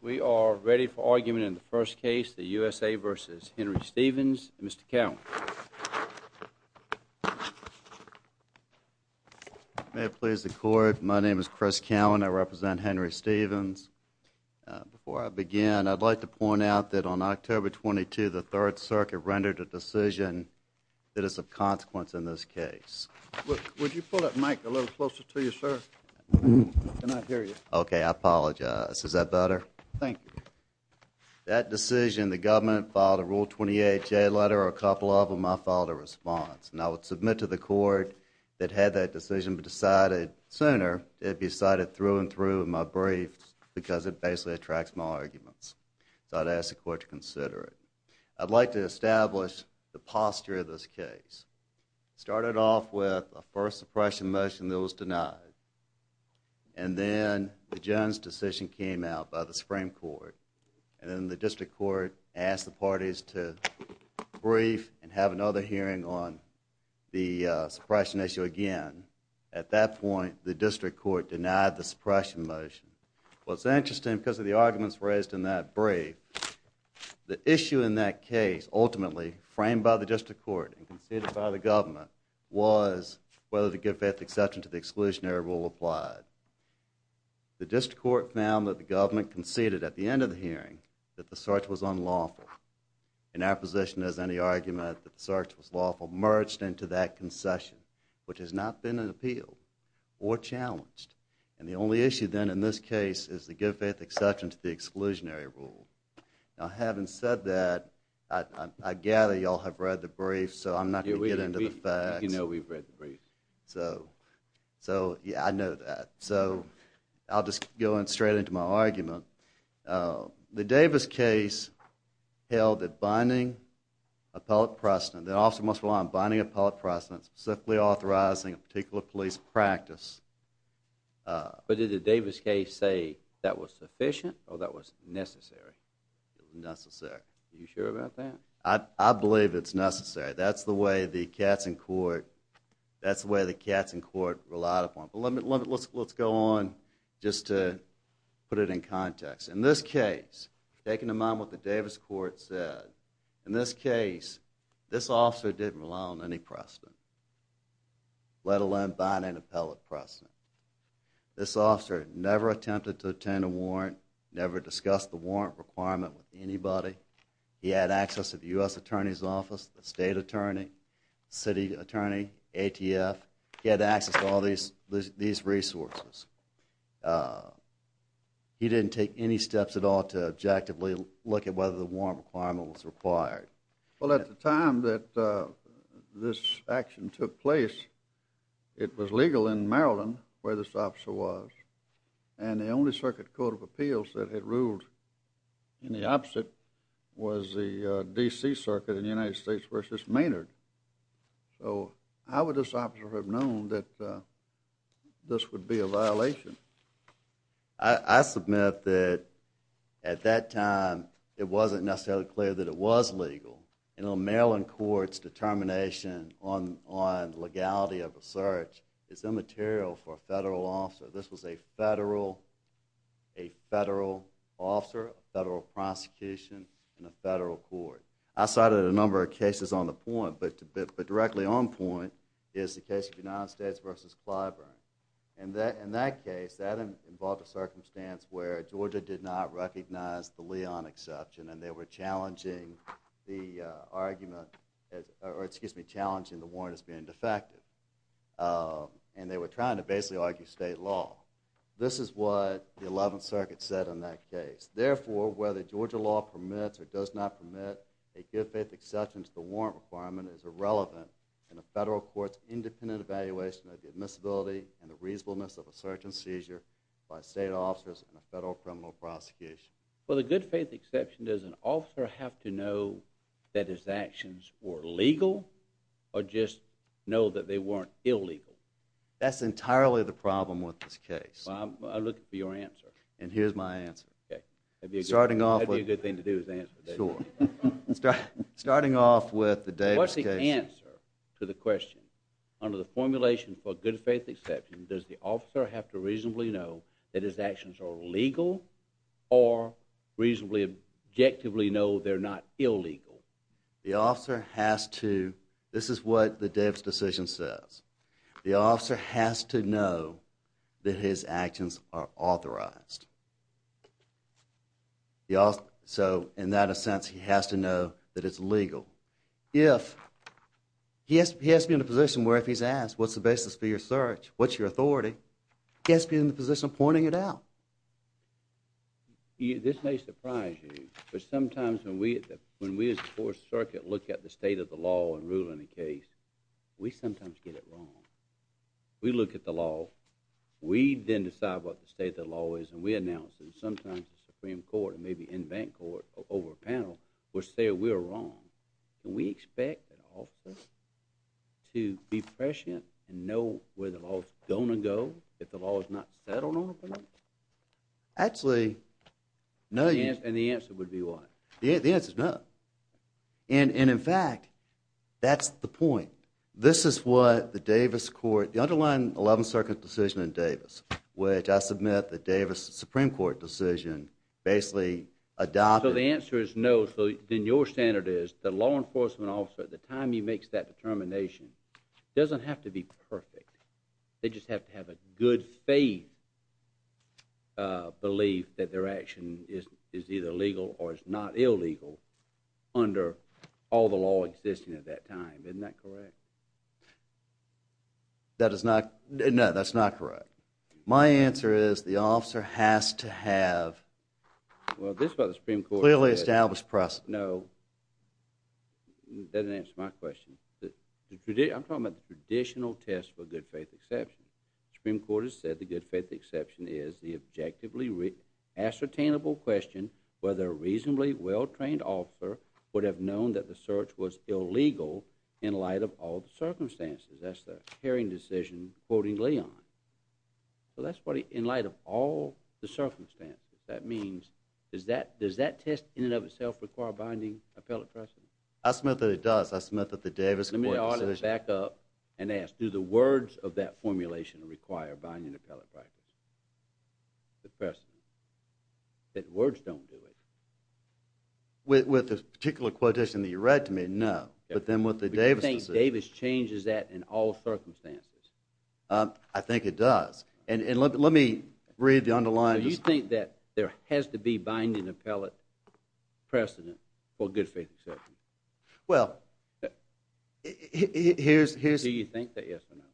We are ready for argument in the first case, the U.S.A. v. Henry Stephens. Mr. Cowen. May it please the Court, my name is Chris Cowen. I represent Henry Stephens. Before I begin, I'd like to point out that on October 22, the Third Circuit rendered a decision that is of consequence in this case. Would you pull that mic a little closer to you, sir? I cannot hear you. Okay, I apologize. Is that better? Thank you. That decision, the government filed a Rule 28 J letter, a couple of them I filed a response. And I would submit to the Court that had that decision been decided sooner, it'd be cited through and through in my briefs because it basically attracts my arguments. So I'd ask the Court to consider it. I'd like to establish the posture of this case. Started off with a first suppression motion that was denied. And then the Jones decision came out by the Supreme Court. And then the District Court asked the parties to brief and have another hearing on the suppression issue again. At that point, the District Court denied the suppression motion. What's interesting, because of the arguments raised in that brief, the issue in that case, ultimately framed by the District Court and conceded by the government, was whether the good faith exception to the exclusionary rule applied. The District Court found that the government conceded at the end of the hearing that the search was unlawful. And our position is any argument that the search was lawful merged into that concession, which has not been appealed or challenged. And the only issue then in this case is the good faith exception to the exclusionary rule. Now having said that, I gather y'all have read the brief, so I'm not going to get into the facts. Yeah, we know we've read the brief. So, yeah, I know that. So, I'll just go straight into my argument. The Davis case held that binding appellate precedent, the officer must rely on binding appellate precedent, specifically authorizing a particular police practice. But did the Davis case say that was sufficient or that was necessary? It was necessary. Are you sure about that? I believe it's necessary. That's the way the Katzen court relied upon. Let's go on just to put it in context. In this case, taking in mind what the Davis court said, in this case, this officer didn't rely on any precedent, let alone binding appellate precedent. This officer never attempted to obtain a warrant, never discussed the warrant requirement with anybody. He had access to the U.S. Attorney's Office, the State Attorney, City Attorney, ATF. He had access to all these resources. He didn't take any steps at all to objectively look at whether the warrant requirement was required. Well, at the time that this action took place, it was legal in Maryland where this officer was, and the only circuit court of appeals that had ruled in the opposite was the D.C. Circuit in the United States v. Maynard. So how would this officer have known that this would be a violation? I submit that at that time, it wasn't necessarily clear that it was legal. In a Maryland court's determination on legality of a search, it's immaterial for a federal officer. This was a federal officer, a federal prosecution in a federal court. I cited a number of cases on the point, but directly on point is the case of the United States v. Clyburn. In that case, that involved a circumstance where Georgia did not recognize the Leon exception, and they were challenging the warrant as being defective. And they were trying to basically argue state law. This is what the 11th Circuit said in that case. Therefore, whether Georgia law permits or does not permit a good faith exception to the warrant requirement is irrelevant in a federal court's independent evaluation of the admissibility and the reasonableness of a search and seizure by state officers in a federal criminal prosecution. For the good faith exception, does an officer have to know that his actions were legal or just know that they weren't illegal? That's entirely the problem with this case. Well, I'm looking for your answer. And here's my answer. Okay. I'd be a good thing to do is answer. Sure. Starting off with the Davis case. What's the answer to the question? Under the formulation for good faith exception, does the officer have to reasonably know that his actions are legal or reasonably, objectively know they're not illegal? The officer has to. This is what the Davis decision says. The officer has to know that his actions are authorized. So, in that sense, he has to know that it's legal. If he has to be in a position where if he's asked, what's the basis for your search, what's your authority, he has to be in the position of pointing it out. This may surprise you, but sometimes when we, as the Fourth Circuit, look at the state of the law and rule in a case, we sometimes get it wrong. We look at the law. We then decide what the state of the law is, and we announce it. Sometimes the Supreme Court and maybe in-bank court over a panel will say we're wrong. Can we expect an officer to be prescient and know where the law's going to go if the law is not settled on a point? Actually, no. And the answer would be what? The answer's no. And, in fact, that's the point. This is what the Davis court, the underlying Eleventh Circuit decision in Davis, which I submit the Davis Supreme Court decision basically adopted. So the answer is no. So then your standard is the law enforcement officer, at the time he makes that determination, doesn't have to be perfect. They just have to have a good faith belief that their action is either legal or is not illegal under all the law existing at that time. Isn't that correct? That is not. No, that's not correct. My answer is the officer has to have. Well, this is what the Supreme Court said. Clearly established precedent. No. That doesn't answer my question. I'm talking about the traditional test for good faith exception. The Supreme Court has said the good faith exception is the objectively ascertainable question whether a reasonably well-trained officer would have known that the search was illegal in light of all the circumstances. That's the hearing decision quoting Leon. So that's what in light of all the circumstances, that means does that test in and of itself require binding appellate precedent? I submit that it does. I submit that the Davis court decision. Let me back up and ask, do the words of that formulation require binding appellate precedent? The words don't do it. With the particular quotation that you read to me, no. But then with the Davis decision. Do you think Davis changes that in all circumstances? I think it does. And let me read the underlying. Do you think that there has to be binding appellate precedent for good faith exception? Well, here's. Do you think that yes or no?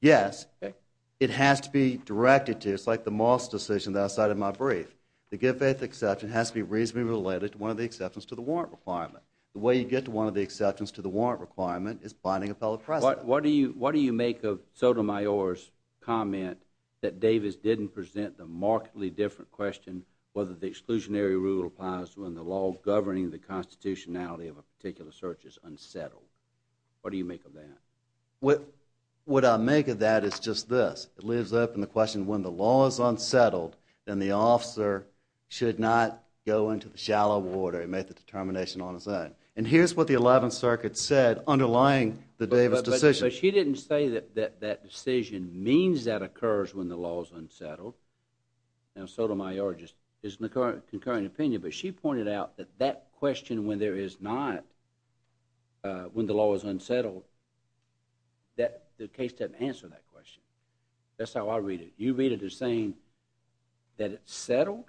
Yes. Okay. It has to be directed to. It's like the Moss decision that I cited in my brief. The good faith exception has to be reasonably related to one of the exceptions to the warrant requirement. The way you get to one of the exceptions to the warrant requirement is binding appellate precedent. What do you make of Sotomayor's comment that Davis didn't present the markedly different question whether the exclusionary rule applies when the law governing the constitutionality of a particular search is unsettled? What do you make of that? What I make of that is just this. It lives up in the question when the law is unsettled, then the officer should not go into the shallow water and make the determination on his own. And here's what the 11th Circuit said underlying the Davis decision. But she didn't say that that decision means that occurs when the law is unsettled. Now, Sotomayor just isn't a concurrent opinion, but she pointed out that that question when there is not, when the law is unsettled, that the case doesn't answer that question. That's how I read it. You read it as saying that it's settled,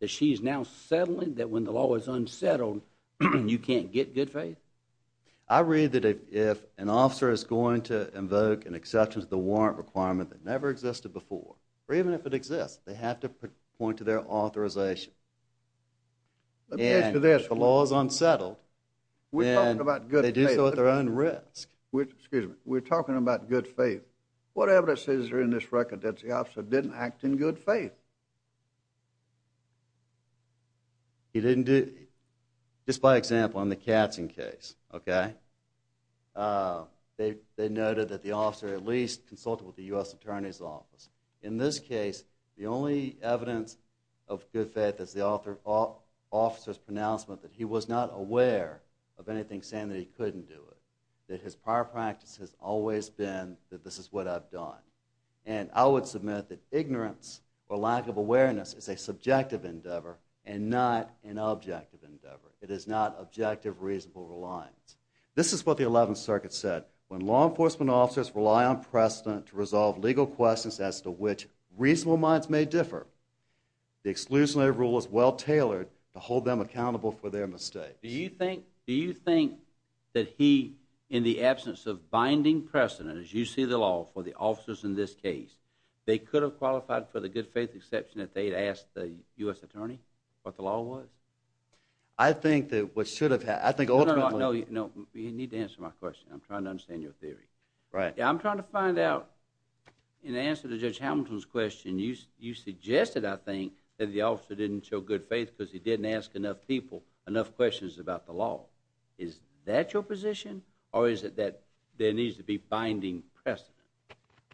that she's now settling, that when the law is unsettled, you can't get good faith? I read that if an officer is going to invoke an exception to the warrant requirement that never existed before, or even if it exists, they have to point to their authorization. And if the law is unsettled, then they do so at their own risk. Excuse me. We're talking about good faith. What evidence is there in this record that the officer didn't act in good faith? He didn't do, just by example, in the Katzen case, okay? They noted that the officer at least consulted with the U.S. Attorney's Office. In this case, the only evidence of good faith is the officer's pronouncement that he was not aware of anything saying that he couldn't do it, that his prior practice has always been that this is what I've done. And I would submit that ignorance or lack of awareness is a subjective endeavor and not an objective endeavor. It is not objective, reasonable reliance. This is what the 11th Circuit said. When law enforcement officers rely on precedent to resolve legal questions as to which reasonable minds may differ, the exclusionary rule is well tailored to hold them accountable for their mistakes. Do you think that he, in the absence of binding precedent, as you see the law, for the officers in this case, they could have qualified for the good faith exception that they had asked the U.S. Attorney what the law was? I think that what should have happened, I think ultimately... No, no, no, you need to answer my question. I'm trying to understand your theory. I'm trying to find out, in answer to Judge Hamilton's question, you suggested, I think, that the officer didn't show good faith because he didn't ask enough people enough questions about the law. Is that your position? Or is it that there needs to be binding precedent?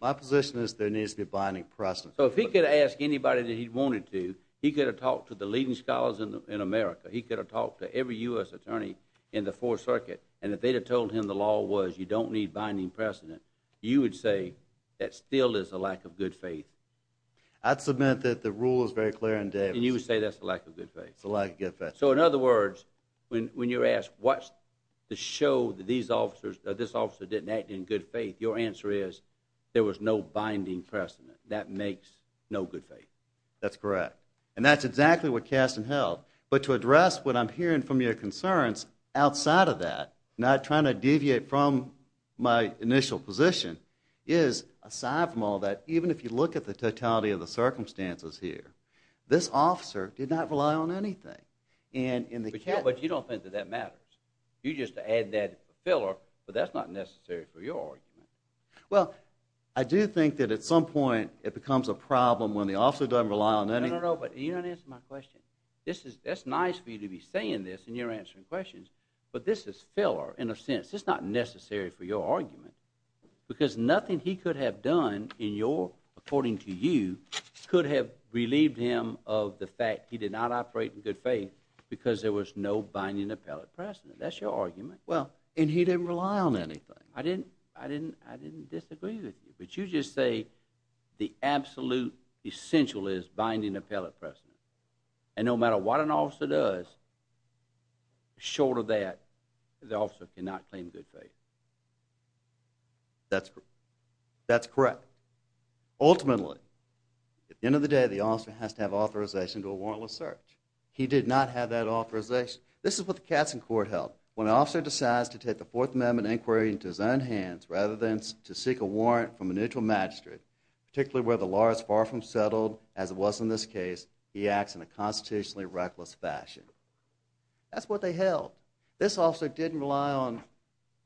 My position is there needs to be binding precedent. So if he could have asked anybody that he wanted to, he could have talked to the leading scholars in America, he could have talked to every U.S. Attorney in the 4th Circuit, and if they'd have told him the law was you don't need binding precedent, you would say that still is a lack of good faith? I'd submit that the rule is very clear in Davis. And you would say that's a lack of good faith? It's a lack of good faith. So in other words, when you're asked, what's to show that this officer didn't act in good faith, your answer is there was no binding precedent. That makes no good faith. That's correct. And that's exactly what Kasten held. But to address what I'm hearing from your concerns outside of that, not trying to deviate from my initial position, is, aside from all that, even if you look at the totality of the circumstances here, this officer did not rely on anything. But you don't think that that matters. You just add that filler, but that's not necessary for your argument. Well, I do think that at some point it becomes a problem when the officer doesn't rely on anything. No, no, no, but you don't answer my question. That's nice for you to be saying this and you're answering questions, but this is filler in a sense. It's not necessary for your argument because nothing he could have done in your, according to you, could have relieved him of the fact he did not operate in good faith because there was no binding appellate precedent. That's your argument. Well, and he didn't rely on anything. I didn't disagree with you, but you just say the absolute essential is binding appellate precedent. And no matter what an officer does, short of that, the officer cannot claim good faith. That's correct. Ultimately, at the end of the day, the officer has to have authorization to a warrantless search. He did not have that authorization. This is what the Katzen court held. When an officer decides to take the Fourth Amendment inquiry into his own hands rather than to seek a warrant from a neutral magistrate, particularly where the law is far from settled as it was in this case, he acts in a constitutionally reckless fashion. That's what they held. This officer didn't rely on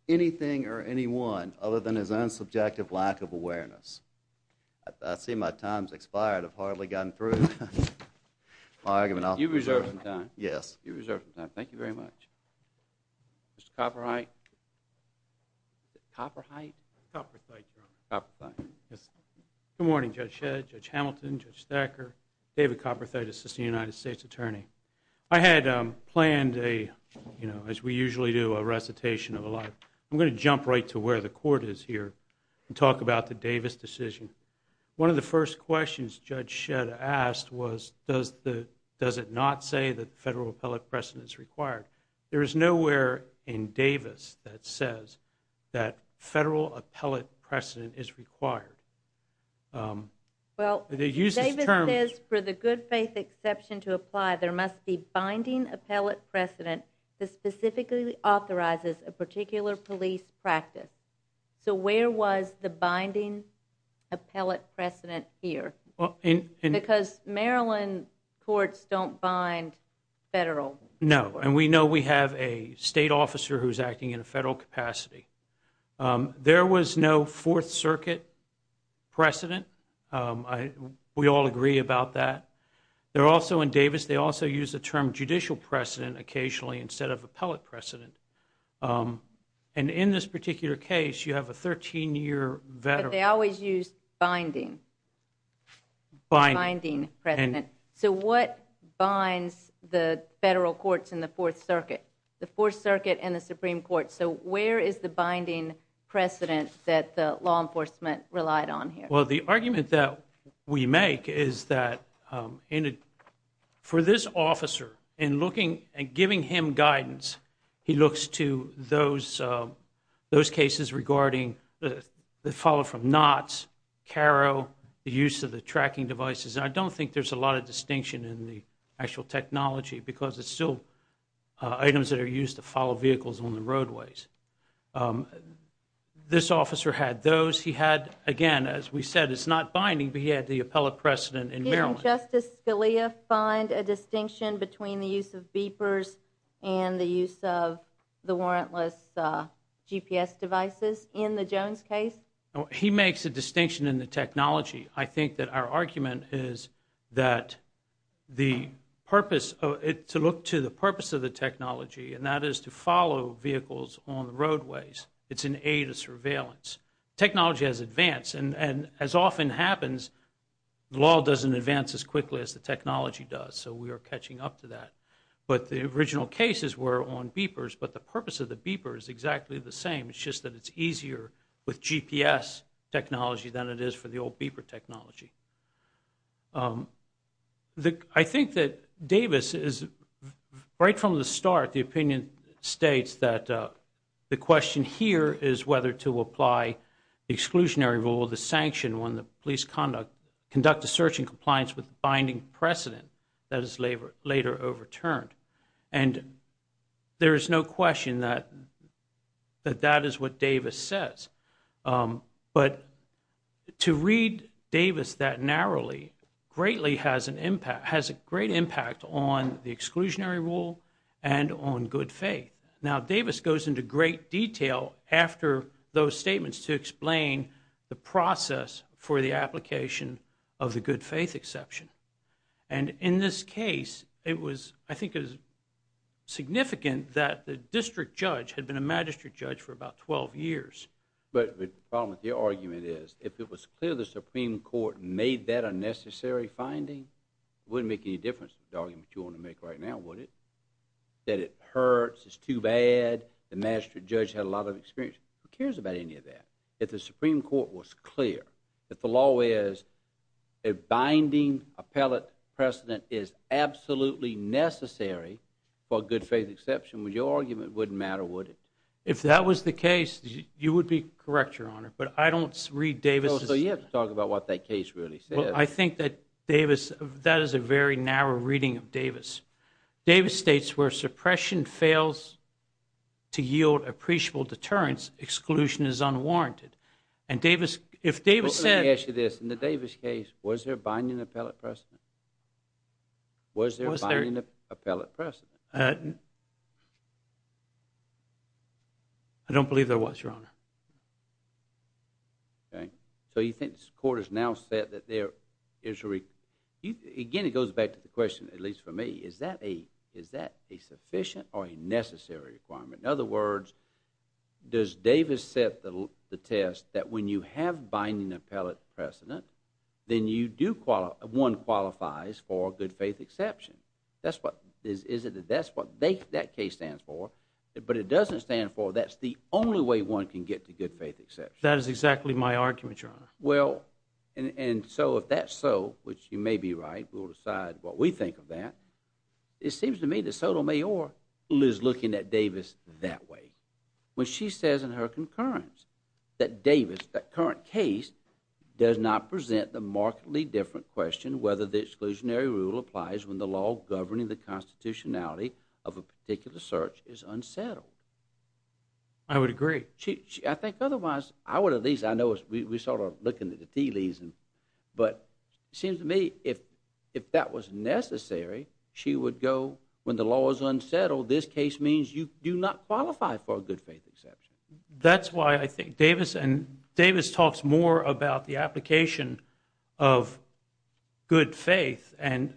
anything or anyone other than his own subjective lack of awareness. I see my time's expired. I've hardly gotten through my argument. You've reserved some time. Yes. You've reserved some time. Thank you very much. Mr. Copperthite? Copperthite? Copperthite, Your Honor. Copperthite. Good morning, Judge Shedd, Judge Hamilton, Judge Thacker, David Copperthite, Assistant United States Attorney. I had planned, as we usually do, a recitation of a lot. I'm going to jump right to where the court is here and talk about the Davis decision. One of the first questions Judge Shedd asked was, does it not say that federal appellate precedent is required? There is nowhere in Davis that says that federal appellate precedent is required. Well, Davis says for the good faith exception to apply, there must be binding appellate precedent that specifically authorizes a particular police practice. So where was the binding appellate precedent here? Because Maryland courts don't bind federal. No. And we know we have a state officer who's acting in a federal capacity. There was no Fourth Circuit precedent. We all agree about that. In Davis, they also use the term judicial precedent occasionally instead of appellate precedent. And in this particular case, you have a 13-year veteran. But they always use binding precedent. So what binds the federal courts and the Fourth Circuit? The Fourth Circuit and the Supreme Court. So where is the binding precedent that the law enforcement relied on here? Well, the argument that we make is that for this officer, in looking and giving him guidance, he looks to those cases regarding the follow from knots, caro, the use of the tracking devices. And I don't think there's a lot of distinction in the actual technology because it's still items that are used to follow vehicles on the roadways. This officer had those. He had, again, as we said, it's not binding, but he had the appellate precedent in Maryland. Can Justice Scalia find a distinction between the use of beepers and the use of the warrantless GPS devices in the Jones case? He makes a distinction in the technology. I think that our argument is that the purpose, to look to the purpose of the technology, and that is to follow vehicles on the roadways. It's an aid of surveillance. Technology has advanced, and as often happens, the law doesn't advance as quickly as the technology does, so we are catching up to that. But the original cases were on beepers, but the purpose of the beeper is exactly the same. It's just that it's easier with GPS technology than it is for the old beeper technology. I think that Davis is, right from the start, the opinion states that the question here is whether to apply the exclusionary rule, the sanction when the police conduct, conduct a search in compliance with the binding precedent that is later overturned. And there is no question that that is what Davis says. But to read Davis that narrowly greatly has an impact, on the exclusionary rule and on good faith. Now Davis goes into great detail after those statements to explain the process for the application of the good faith exception. And in this case, it was, I think it was significant that the district judge had been a magistrate judge for about 12 years. But the problem with your argument is, if it was clear the Supreme Court made that a necessary finding, it wouldn't make any difference to the argument you want to make right now, would it? That it hurts, it's too bad, the magistrate judge had a lot of experience. Who cares about any of that? If the Supreme Court was clear that the law is, a binding appellate precedent is absolutely necessary for a good faith exception, with your argument, it wouldn't matter, would it? If that was the case, you would be correct, Your Honor. But I don't read Davis' So you have to talk about what that case really says. Well, I think that Davis, that is a very narrow reading of Davis. Davis states where suppression fails to yield appreciable deterrence, exclusion is unwarranted. And Davis, if Davis said... Let me ask you this, in the Davis case, was there a binding appellate precedent? I don't believe there was, Your Honor. Okay. So you think the court has now said that there is... Again, it goes back to the question, at least for me, is that a sufficient or a necessary requirement? In other words, does Davis set the test that when you have binding appellate precedent, then one qualifies for a good faith exception? That's what that case stands for. But it doesn't stand for that's the only way one can get to good faith exception. That is exactly my argument, Your Honor. Well, and so if that's so, which you may be right, we'll decide what we think of that, it seems to me that Sotomayor is looking at Davis that way. When she says in her concurrence that Davis, that current case, does not present the markedly different question whether the exclusionary rule applies when the law governing the constitutionality of a particular search is unsettled. I would agree. I think otherwise, I would at least, I know we're sort of looking at the tea leaves, but it seems to me if that was necessary, she would go when the law is unsettled, this case means you do not qualify for a good faith exception. That's why I think Davis, and Davis talks more about the application of good faith and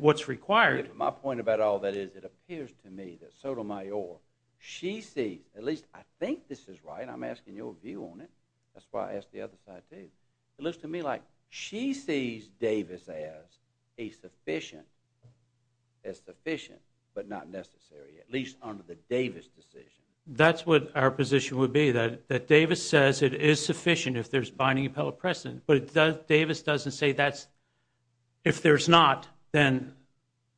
what's required. My point about all that is it appears to me that Sotomayor, she sees, at least I think this is right, I'm asking your view on it, that's why I asked the other side too, it looks to me like she sees Davis as a sufficient, as sufficient, but not necessary, at least under the Davis decision. That's what our position would be, that Davis says it is sufficient if there's binding appellate precedent, but Davis doesn't say that's, if there's not, then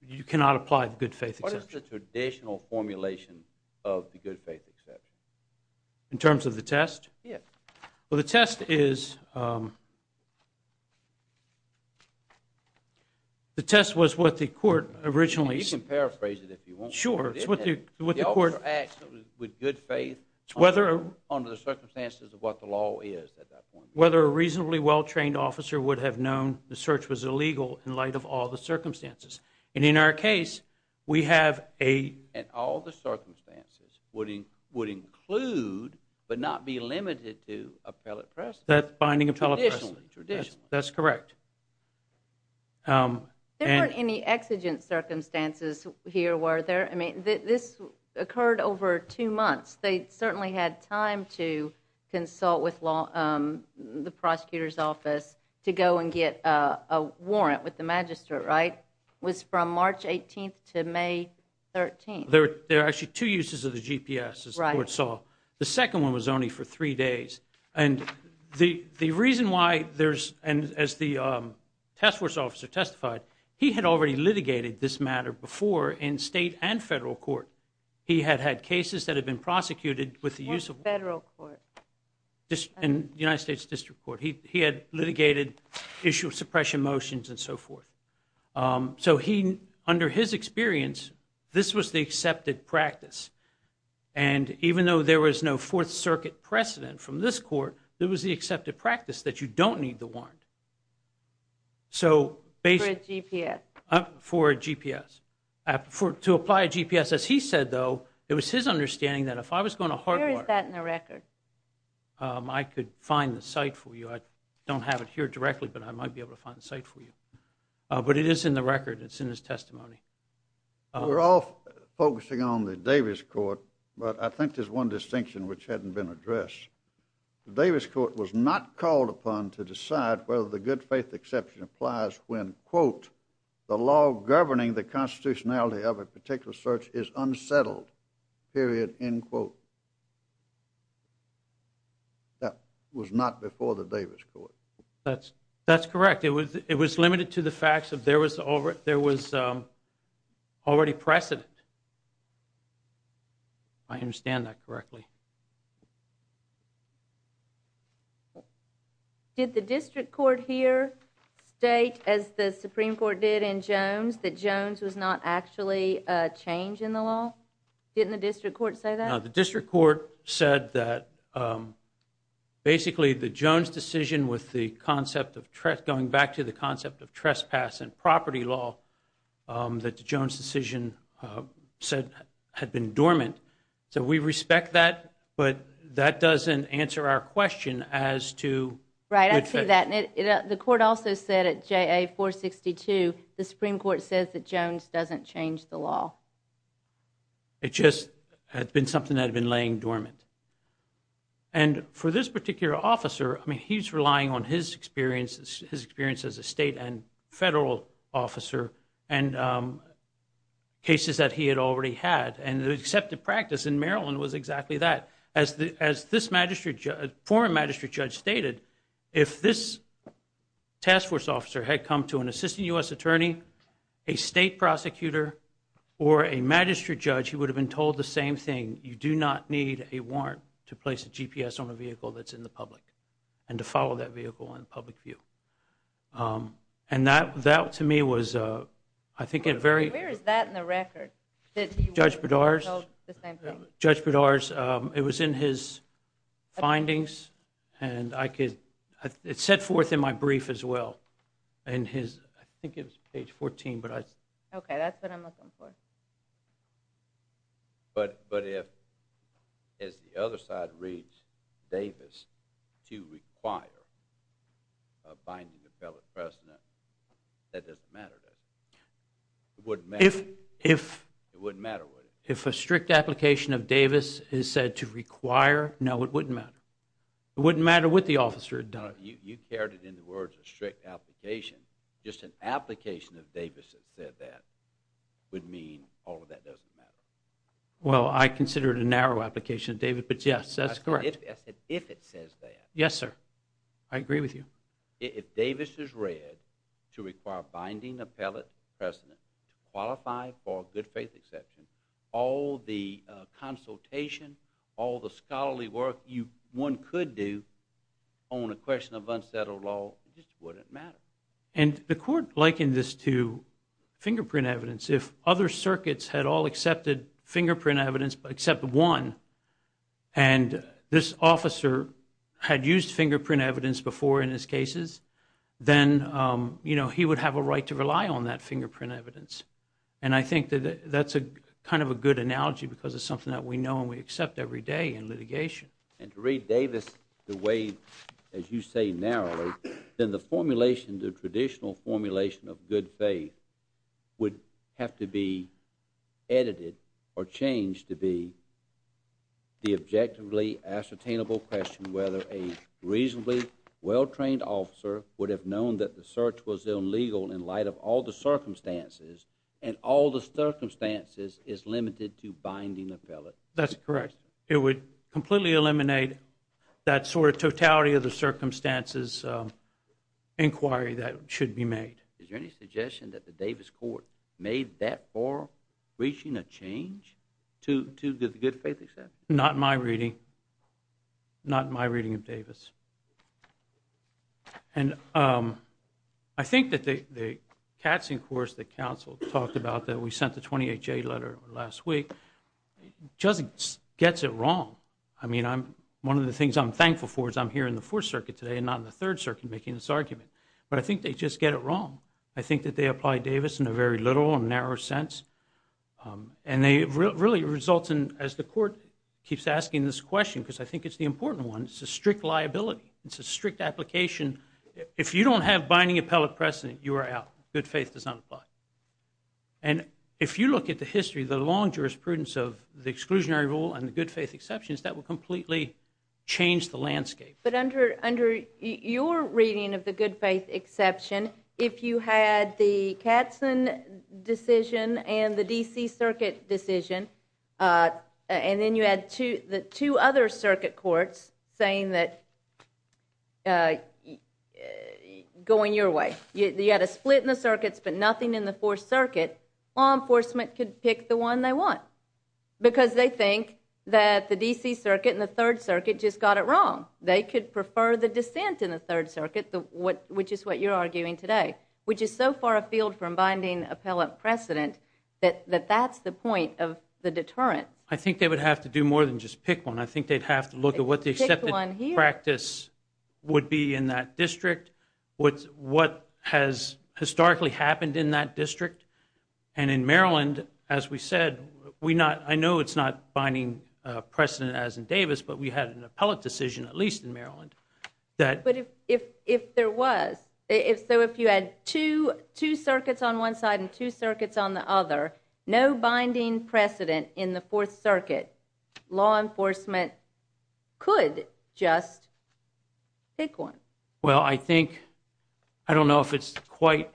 you cannot apply the good faith exception. What is the traditional formulation of the good faith exception? In terms of the test? Yes. Well, the test is, the test was what the court originally said. You can paraphrase it if you want. Sure. The officer acts with good faith under the circumstances of what the law is at that point. Whether a reasonably well-trained officer would have known the search was illegal in light of all the circumstances. And in our case, we have a... And all the circumstances would include, but not be limited to, appellate precedent. That's binding appellate precedent. Traditionally. That's correct. There weren't any exigent circumstances here, were there? I mean, this occurred over two months. They certainly had time to consult with the prosecutor's office to go and get a warrant with the magistrate, right? Was from March 18th to May 13th. There are actually two uses of the GPS, as the court saw. The second one was only for three days. And the reason why there's... And as the task force officer testified, he had already litigated this matter before in state and federal court. He had had cases that had been prosecuted with the use of... What federal court? United States District Court. He had litigated issue of suppression motions and so forth. So he... Under his experience, this was the accepted practice. And even though there was no Fourth Circuit precedent from this court, it was the accepted practice that you don't need the warrant. So... For a GPS. For a GPS. To apply a GPS, as he said, though, it was his understanding that if I was going to... Where is that in the record? I could find the site for you. I don't have it here directly, but I might be able to find the site for you. But it is in the record. It's in his testimony. We're all focusing on the Davis court, but I think there's one distinction which hadn't been addressed. The Davis court was not called upon to decide whether the good faith exception applies when, quote, the law governing the constitutionality of a particular search is unsettled. Period. End quote. That was not before the Davis court. That's correct. It was limited to the fact that there was already precedent. If I understand that correctly. Did the district court here state, as the Supreme Court did in Jones, that Jones was not actually a change in the law? Didn't the district court say that? No, the district court said that basically the Jones decision with the concept of, going back to the concept of trespass and property law, that the Jones decision had been dormant. So we respect that, but that doesn't answer our question as to good faith. Right, I see that. The court also said at JA 462, the Supreme Court says that Jones doesn't change the law. It just had been something that had been laying dormant. And for this particular officer, he's relying on his experience as a state and federal officer and cases that he had already had. And the accepted practice in Maryland was exactly that. As this former magistrate judge stated, if this task force officer had come to an assistant U.S. attorney, a state prosecutor, or a magistrate judge, he would have been told the same thing. And you do not need a warrant to place a GPS on a vehicle that's in the public and to follow that vehicle in public view. And that, to me, was I think a very... Where is that in the record? Judge Bedard's. He was told the same thing? Judge Bedard's. It was in his findings. And I could, it's set forth in my brief as well. And his, I think it was page 14, but I... Okay, that's what I'm looking for. But if, as the other side reads, Davis to require a binding appellate precedent, that doesn't matter, does it? It wouldn't matter? If... It wouldn't matter, would it? If a strict application of Davis is said to require, no, it wouldn't matter. It wouldn't matter what the officer had done. You carried it in the words of strict application. Just an application of Davis that said that would mean all of that doesn't matter. Well, I consider it a narrow application, David, but yes, that's correct. I said if it says that. Yes, sir. I agree with you. If Davis is read to require binding appellate precedent to qualify for a good faith exception, all the consultation, all the scholarly work one could do on a question of unsettled law, it just wouldn't matter. And the court likened this to fingerprint evidence. If other circuits had all accepted fingerprint evidence except one, and this officer had used fingerprint evidence before in his cases, then, you know, he would have a right to rely on that fingerprint evidence. And I think that that's kind of a good analogy because it's something that we know and we accept every day in litigation. And to read Davis the way, as you say, narrowly, then the formulation, the traditional formulation of good faith would have to be edited or changed to be the objectively ascertainable question whether a reasonably well-trained officer would have known that the search was illegal in light of all the circumstances, and all the circumstances is limited to binding appellate. That's correct. It would completely eliminate that sort of totality of the circumstances inquiry that should be made. Is there any suggestion that the Davis court made that far reaching a change to good faith acceptance? Not in my reading. Not in my reading of Davis. And I think that the Katzen course that counsel talked about that we sent the 28-J letter last week just gets it wrong. I mean, one of the things I'm thankful for is I'm here in the Fourth Circuit today and not in the Third Circuit making this argument. But I think they just get it wrong. I think that they apply Davis in a very little and narrow sense. And they really result in, as the court keeps asking this question because I think it's the important one, it's a strict liability. It's a strict application. If you don't have binding appellate precedent, you are out. Good faith does not apply. And if you look at the history, the long jurisprudence of the exclusionary rule and the good faith exceptions, that will completely change the landscape. But under your reading of the good faith exception, if you had the Katzen decision and the D.C. Circuit decision, and then you had the two other circuit courts saying that going your way, you had a split in the circuits but nothing in the Fourth Circuit, law enforcement could pick the one they want. Because they think that the D.C. Circuit and the Third Circuit just got it wrong. They could prefer the dissent in the Third Circuit, which is what you're arguing today, which is so far afield from binding appellate precedent that that's the point of the deterrent. I think they would have to do more than just pick one. I think they'd have to look at what the accepted practice would be in that district, what has historically happened in that district, and in Maryland, as we said, I know it's not binding precedent as in Davis, but we had an appellate decision, at least in Maryland. But if there was, so if you had two circuits on one side and two circuits on the other, no binding precedent in the Fourth Circuit, law enforcement could just pick one. Well, I think, I don't know if it's quite...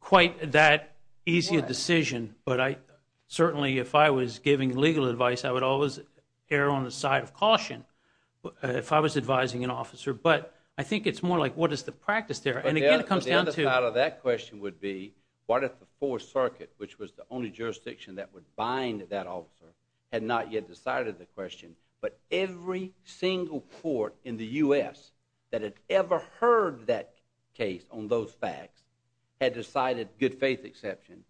Quite that easy a decision, but certainly if I was giving legal advice, I would always err on the side of caution if I was advising an officer. But I think it's more like what is the practice there? And again, it comes down to... The other part of that question would be what if the Fourth Circuit, which was the only jurisdiction that would bind that officer, had not yet decided the question, but every single court in the U.S. that had ever heard that case on those facts had decided good faith exception,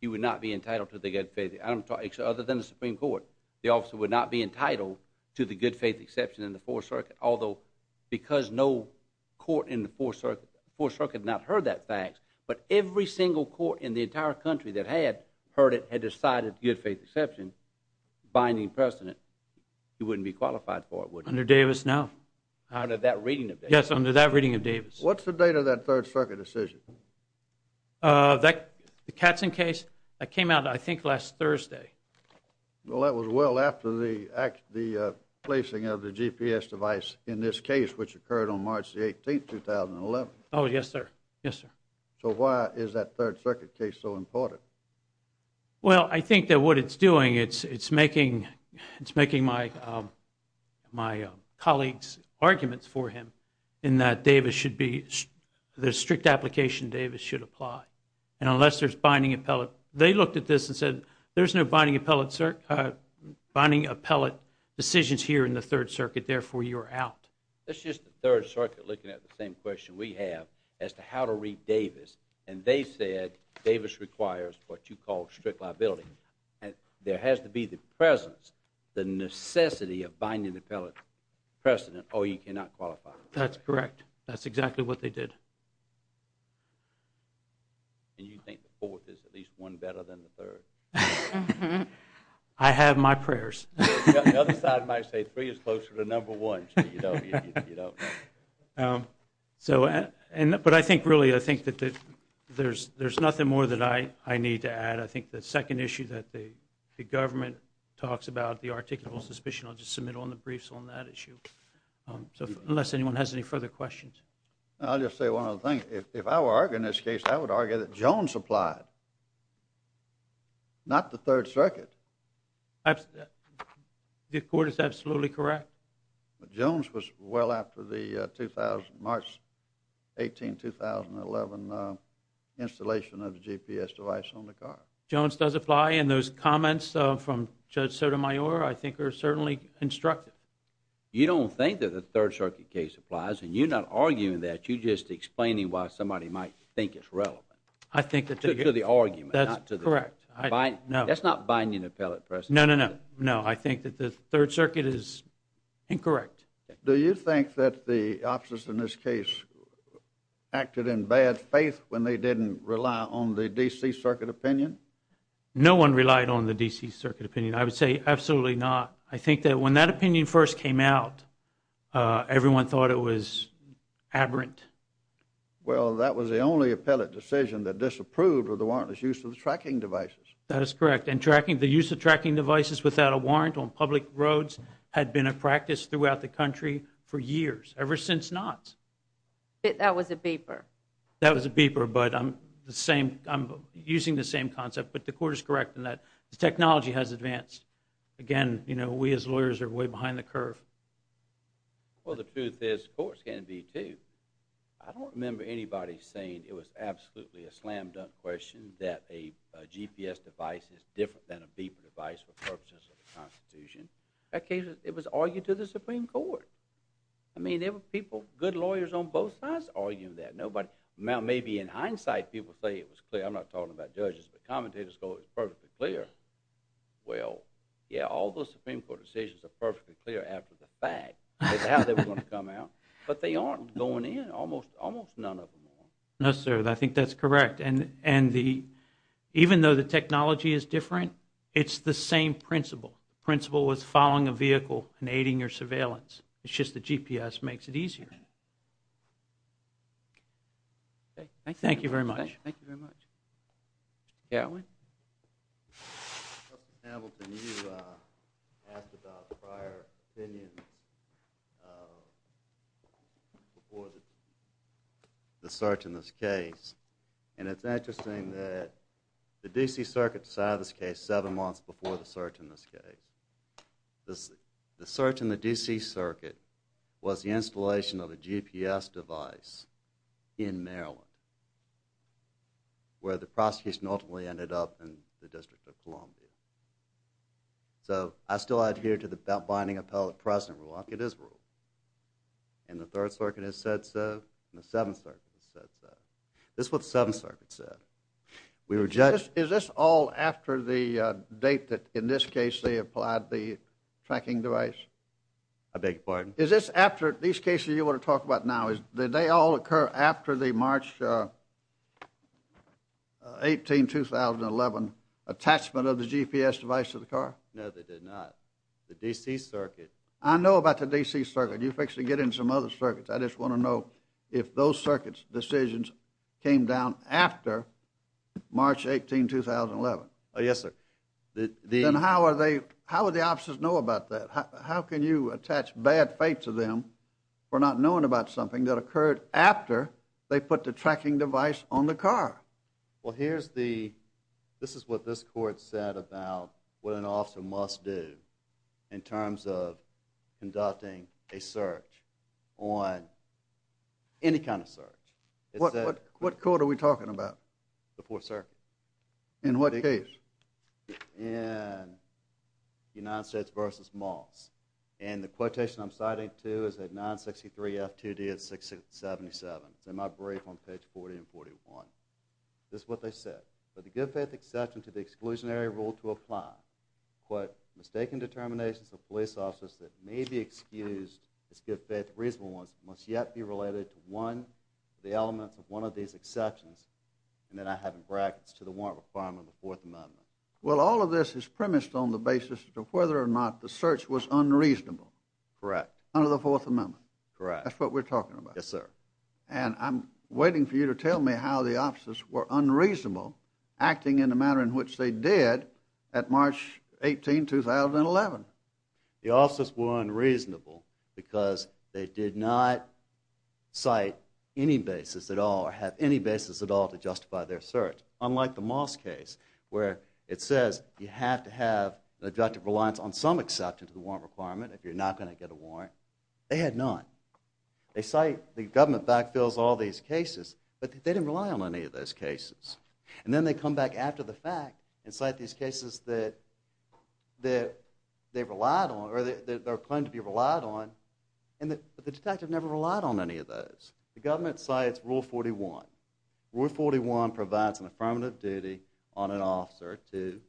he would not be entitled to the good faith... Other than the Supreme Court, the officer would not be entitled to the good faith exception in the Fourth Circuit, although because no court in the Fourth Circuit had not heard that fact, but every single court in the entire country that had heard it had decided good faith exception, binding precedent, he wouldn't be qualified for it, would he? Under Davis, no. Under that reading of Davis. Yes, under that reading of Davis. What's the date of that Third Circuit decision? The Katzen case? That came out, I think, last Thursday. Well, that was well after the placing of the GPS device in this case, which occurred on March the 18th, 2011. Oh, yes, sir. Yes, sir. So why is that Third Circuit case so important? Well, I think that what it's doing, it's making my colleagues' arguments for him in that the strict application Davis should apply, and unless there's binding appellate... They looked at this and said, there's no binding appellate decisions here in the Third Circuit, therefore you're out. That's just the Third Circuit looking at the same question we have as to how to read Davis, and they said Davis requires what you call strict liability. There has to be the presence, the necessity of binding appellate precedent, or you cannot qualify. That's correct. That's exactly what they did. And you think the fourth is at least one better than the third? Mm-hmm. I have my prayers. The other side might say three is closer to number one, but you don't. But I think, really, I think that there's nothing more that I need to add. I think the second issue that the government talks about, the articulable suspicion, I'll just submit on the briefs on that issue, unless anyone has any further questions. I'll just say one other thing. If I were arguing this case, I would argue that Jones applied, not the Third Circuit. The court is absolutely correct. But Jones was well after the March 18, 2011, installation of the GPS device on the car. Jones does apply, and those comments from Judge Sotomayor I think are certainly instructive. You don't think that the Third Circuit case applies, and you're not arguing that. You're just explaining why somebody might think it's relevant. I think that they get it. To the argument, not to the court. That's correct. That's not binding appellate precedent. No, no, no. I think that the Third Circuit is incorrect. Do you think that the officers in this case acted in bad faith when they didn't rely on the D.C. Circuit opinion? No one relied on the D.C. Circuit opinion. I would say absolutely not. I think that when that opinion first came out, everyone thought it was aberrant. Well, that was the only appellate decision that disapproved of the warrantless use of the tracking devices. That is correct. And the use of tracking devices without a warrant on public roads had been a practice throughout the country for years, ever since not. That was a beeper. That was a beeper, but I'm using the same concept. But the court is correct in that the technology has advanced. Again, we as lawyers are way behind the curve. Well, the truth is, courts can be, too. I don't remember anybody saying it was absolutely a slam-dunk question that a GPS device is different than a beeper device for purposes of the Constitution. In that case, it was argued to the Supreme Court. I mean, there were people, good lawyers on both sides arguing that. Maybe in hindsight, people say it was clear. I'm not talking about judges, but commentators go, it was perfectly clear. Well, yeah, all those Supreme Court decisions are perfectly clear after the fact as to how they were going to come out, but they aren't going in, almost none of them are. No, sir, I think that's correct. And even though the technology is different, it's the same principle. The principle was following a vehicle and aiding your surveillance. It's just the GPS makes it easier. Okay, thank you. Thank you very much. Thank you very much. Yeah, Owen. Justice Hamilton, you asked about prior opinions before the search in this case, and it's interesting that the D.C. Circuit decided this case seven months before the search in this case. The search in the D.C. Circuit was the installation of a GPS device in Maryland where the prosecution ultimately ended up in the District of Columbia. So I still adhere to the binding appellate precedent rule. I'll get this rule. And the Third Circuit has said so, and the Seventh Circuit has said so. This is what the Seventh Circuit said. Is this all after the date that, in this case, they applied the tracking device? I beg your pardon? Is this after these cases you want to talk about now, did they all occur after the March 18, 2011, attachment of the GPS device to the car? No, they did not. The D.C. Circuit. I know about the D.C. Circuit. You can actually get into some other circuits. I just want to know if those circuits' decisions came down after March 18, 2011. Yes, sir. Then how would the officers know about that? How can you attach bad faith to them for not knowing about something that occurred after they put the tracking device on the car? Well, this is what this court said about what an officer must do in terms of conducting a search on any kind of search. What court are we talking about? The Fourth Circuit. In what case? In United States v. Moss. And the quotation I'm citing to is at 963 F2D at 677. It's in my brief on page 40 and 41. This is what they said. For the good faith exception to the exclusionary rule to apply, quote, mistaken determinations of police officers that may be excused as good faith reasonable ones must yet be related to one of the elements of one of these exceptions, and then I have in brackets, to the warrant for filing of the Fourth Amendment. Well, all of this is premised on the basis of whether or not the search was unreasonable. Correct. Under the Fourth Amendment. Correct. That's what we're talking about. Yes, sir. And I'm waiting for you to tell me how the officers were unreasonable acting in the manner in which they did at March 18, 2011. The officers were unreasonable because they did not cite any basis at all or have any basis at all to justify their search, unlike the Moss case where it says you have to have an objective reliance on some exception to the warrant requirement if you're not going to get a warrant. They had none. They cite the government backfills of all these cases, but they didn't rely on any of those cases. And then they come back after the fact and cite these cases that they've relied on or they claim to be relied on, but the detective never relied on any of those. The government cites Rule 41. Rule 41 provides an affirmative duty on an officer to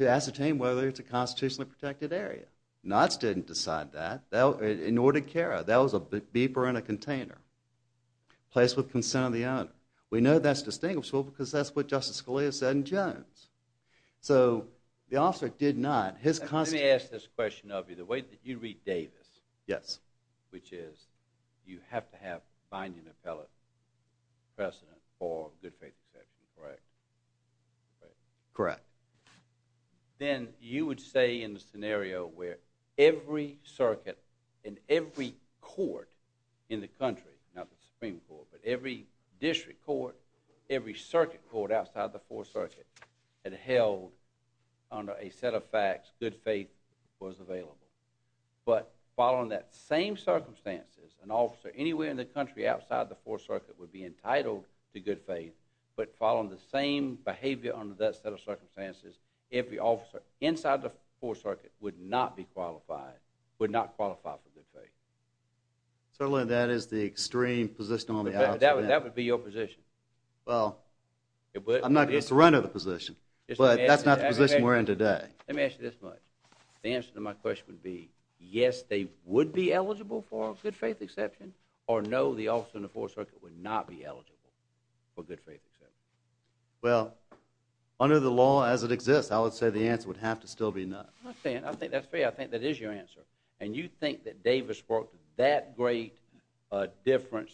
ascertain whether it's a constitutionally protected area. Knotts didn't decide that. Nor did Cara. That was a beeper in a container. Place with consent of the owner. We know that's distinguishable because that's what Justice Scalia said in Jones. So the officer did not. Let me ask this question of you. The way that you read Davis, which is you have to have binding appellate precedent for good faith exception, correct? Correct. Then you would say in the scenario where every circuit and every court in the country, not the Supreme Court, but every district court, every circuit court outside the Fourth Circuit had held under a set of facts good faith was available. But following that same circumstances, an officer anywhere in the country outside the Fourth Circuit would be entitled to good faith, but following the same behavior under that set of circumstances, every officer inside the Fourth Circuit would not be qualified, would not qualify for good faith. Certainly that is the extreme position on the outside. That would be your position. Well, I'm not going to surrender the position, but that's not the position we're in today. Let me ask you this much. The answer to my question would be yes, they would be eligible for a good faith exception, or no, the officer in the Fourth Circuit would not be eligible for good faith exception. Well, under the law as it exists, I would say the answer would have to still be no. I'm not saying, I think that's fair. I think that is your answer. And you think that Davis worked that great a difference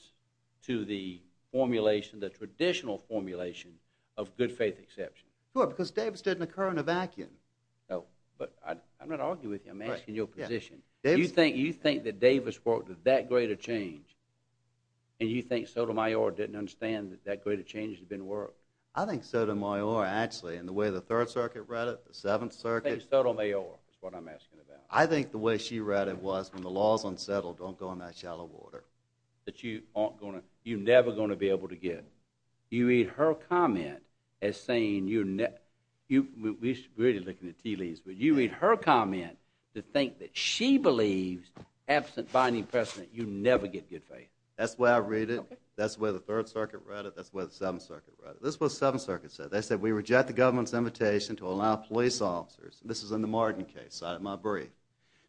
to the formulation, the traditional formulation of good faith exception. Sure, because Davis didn't occur in a vacuum. No, but I'm not arguing with you. I'm asking your position. You think that Davis worked with that great a change, and you think Sotomayor didn't understand that that great a change had been worked? I think Sotomayor actually, and the way the Third Circuit read it, the Seventh Circuit. I think Sotomayor is what I'm asking about. I think the way she read it was, when the law's unsettled, don't go in that shallow water. That you aren't going to, you're never going to be able to get. You read her comment as saying, we're really looking at tea leaves, but you read her comment to think that she believes, absent binding precedent, you never get good faith. That's the way I read it. That's the way the Third Circuit read it. That's the way the Seventh Circuit read it. This is what the Seventh Circuit said. They said, we reject the government's invitation to allow police officers, and this is in the Martin case, cited in my brief,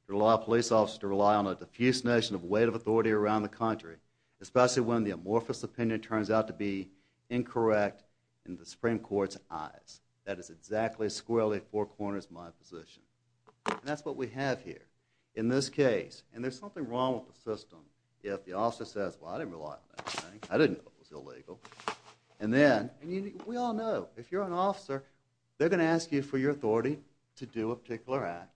to allow police officers to rely on a diffuse notion of weight of authority around the country, especially when the amorphous opinion turns out to be incorrect in the Supreme Court's eyes. That is exactly, squarely, four corners my position. And that's what we have here. In this case, and there's something wrong with the system if the officer says, well, I didn't rely on that thing. I didn't know it was illegal. And then, we all know, if you're an officer, they're going to ask you for your authority to do a particular act.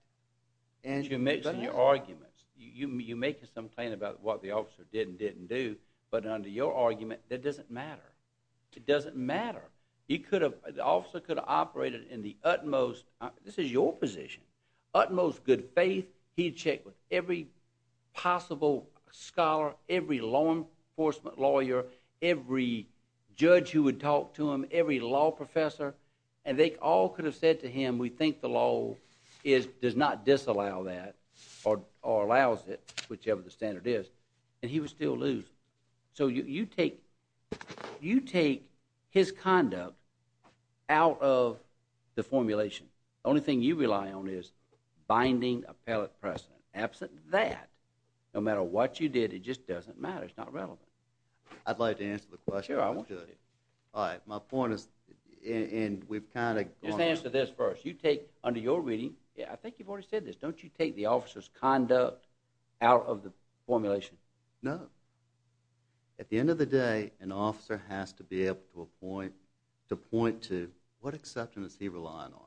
And you make some arguments. You make some claim about what the officer did and didn't do, but under your argument, that doesn't matter. It doesn't matter. The officer could have operated in the utmost, this is your position, utmost good faith. He'd check with every possible scholar, every law enforcement lawyer, every judge who would talk to him, every law professor, and they all could have said to him, we think the law does not disallow that or allows it, whichever the standard is, So you take his conduct out of the formulation. The only thing you rely on is binding appellate precedent. Absent that, no matter what you did, it just doesn't matter. It's not relevant. I'd like to answer the question. Sure, I want you to. All right, my point is, and we've kind of gone on. Just answer this first. You take, under your reading, I think you've already said this, don't you take the officer's conduct out of the formulation? No. At the end of the day, an officer has to be able to point to, what exception is he relying on?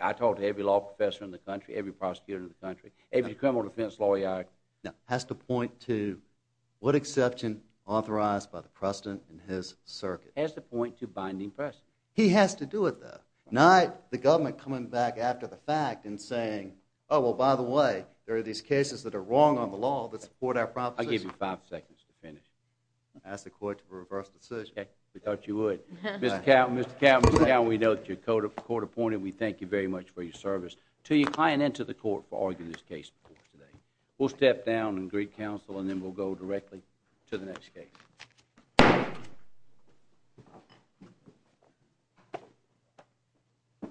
I talk to every law professor in the country, every prosecutor in the country, every criminal defense lawyer. Has to point to what exception authorized by the precedent in his circuit. Has to point to binding precedent. He has to do it, though. Not the government coming back after the fact and saying, oh, well, by the way, there are these cases that are wrong on the law that support our proposition. I'll give you five seconds to finish. Ask the court to reverse decision. We thought you would. Mr. Cowden, Mr. Cowden, Mr. Cowden, we know that you're court appointed. We thank you very much for your service to your client and to the court for arguing this case before us today. We'll step down and greet counsel, and then we'll go directly to the next case. Thank you.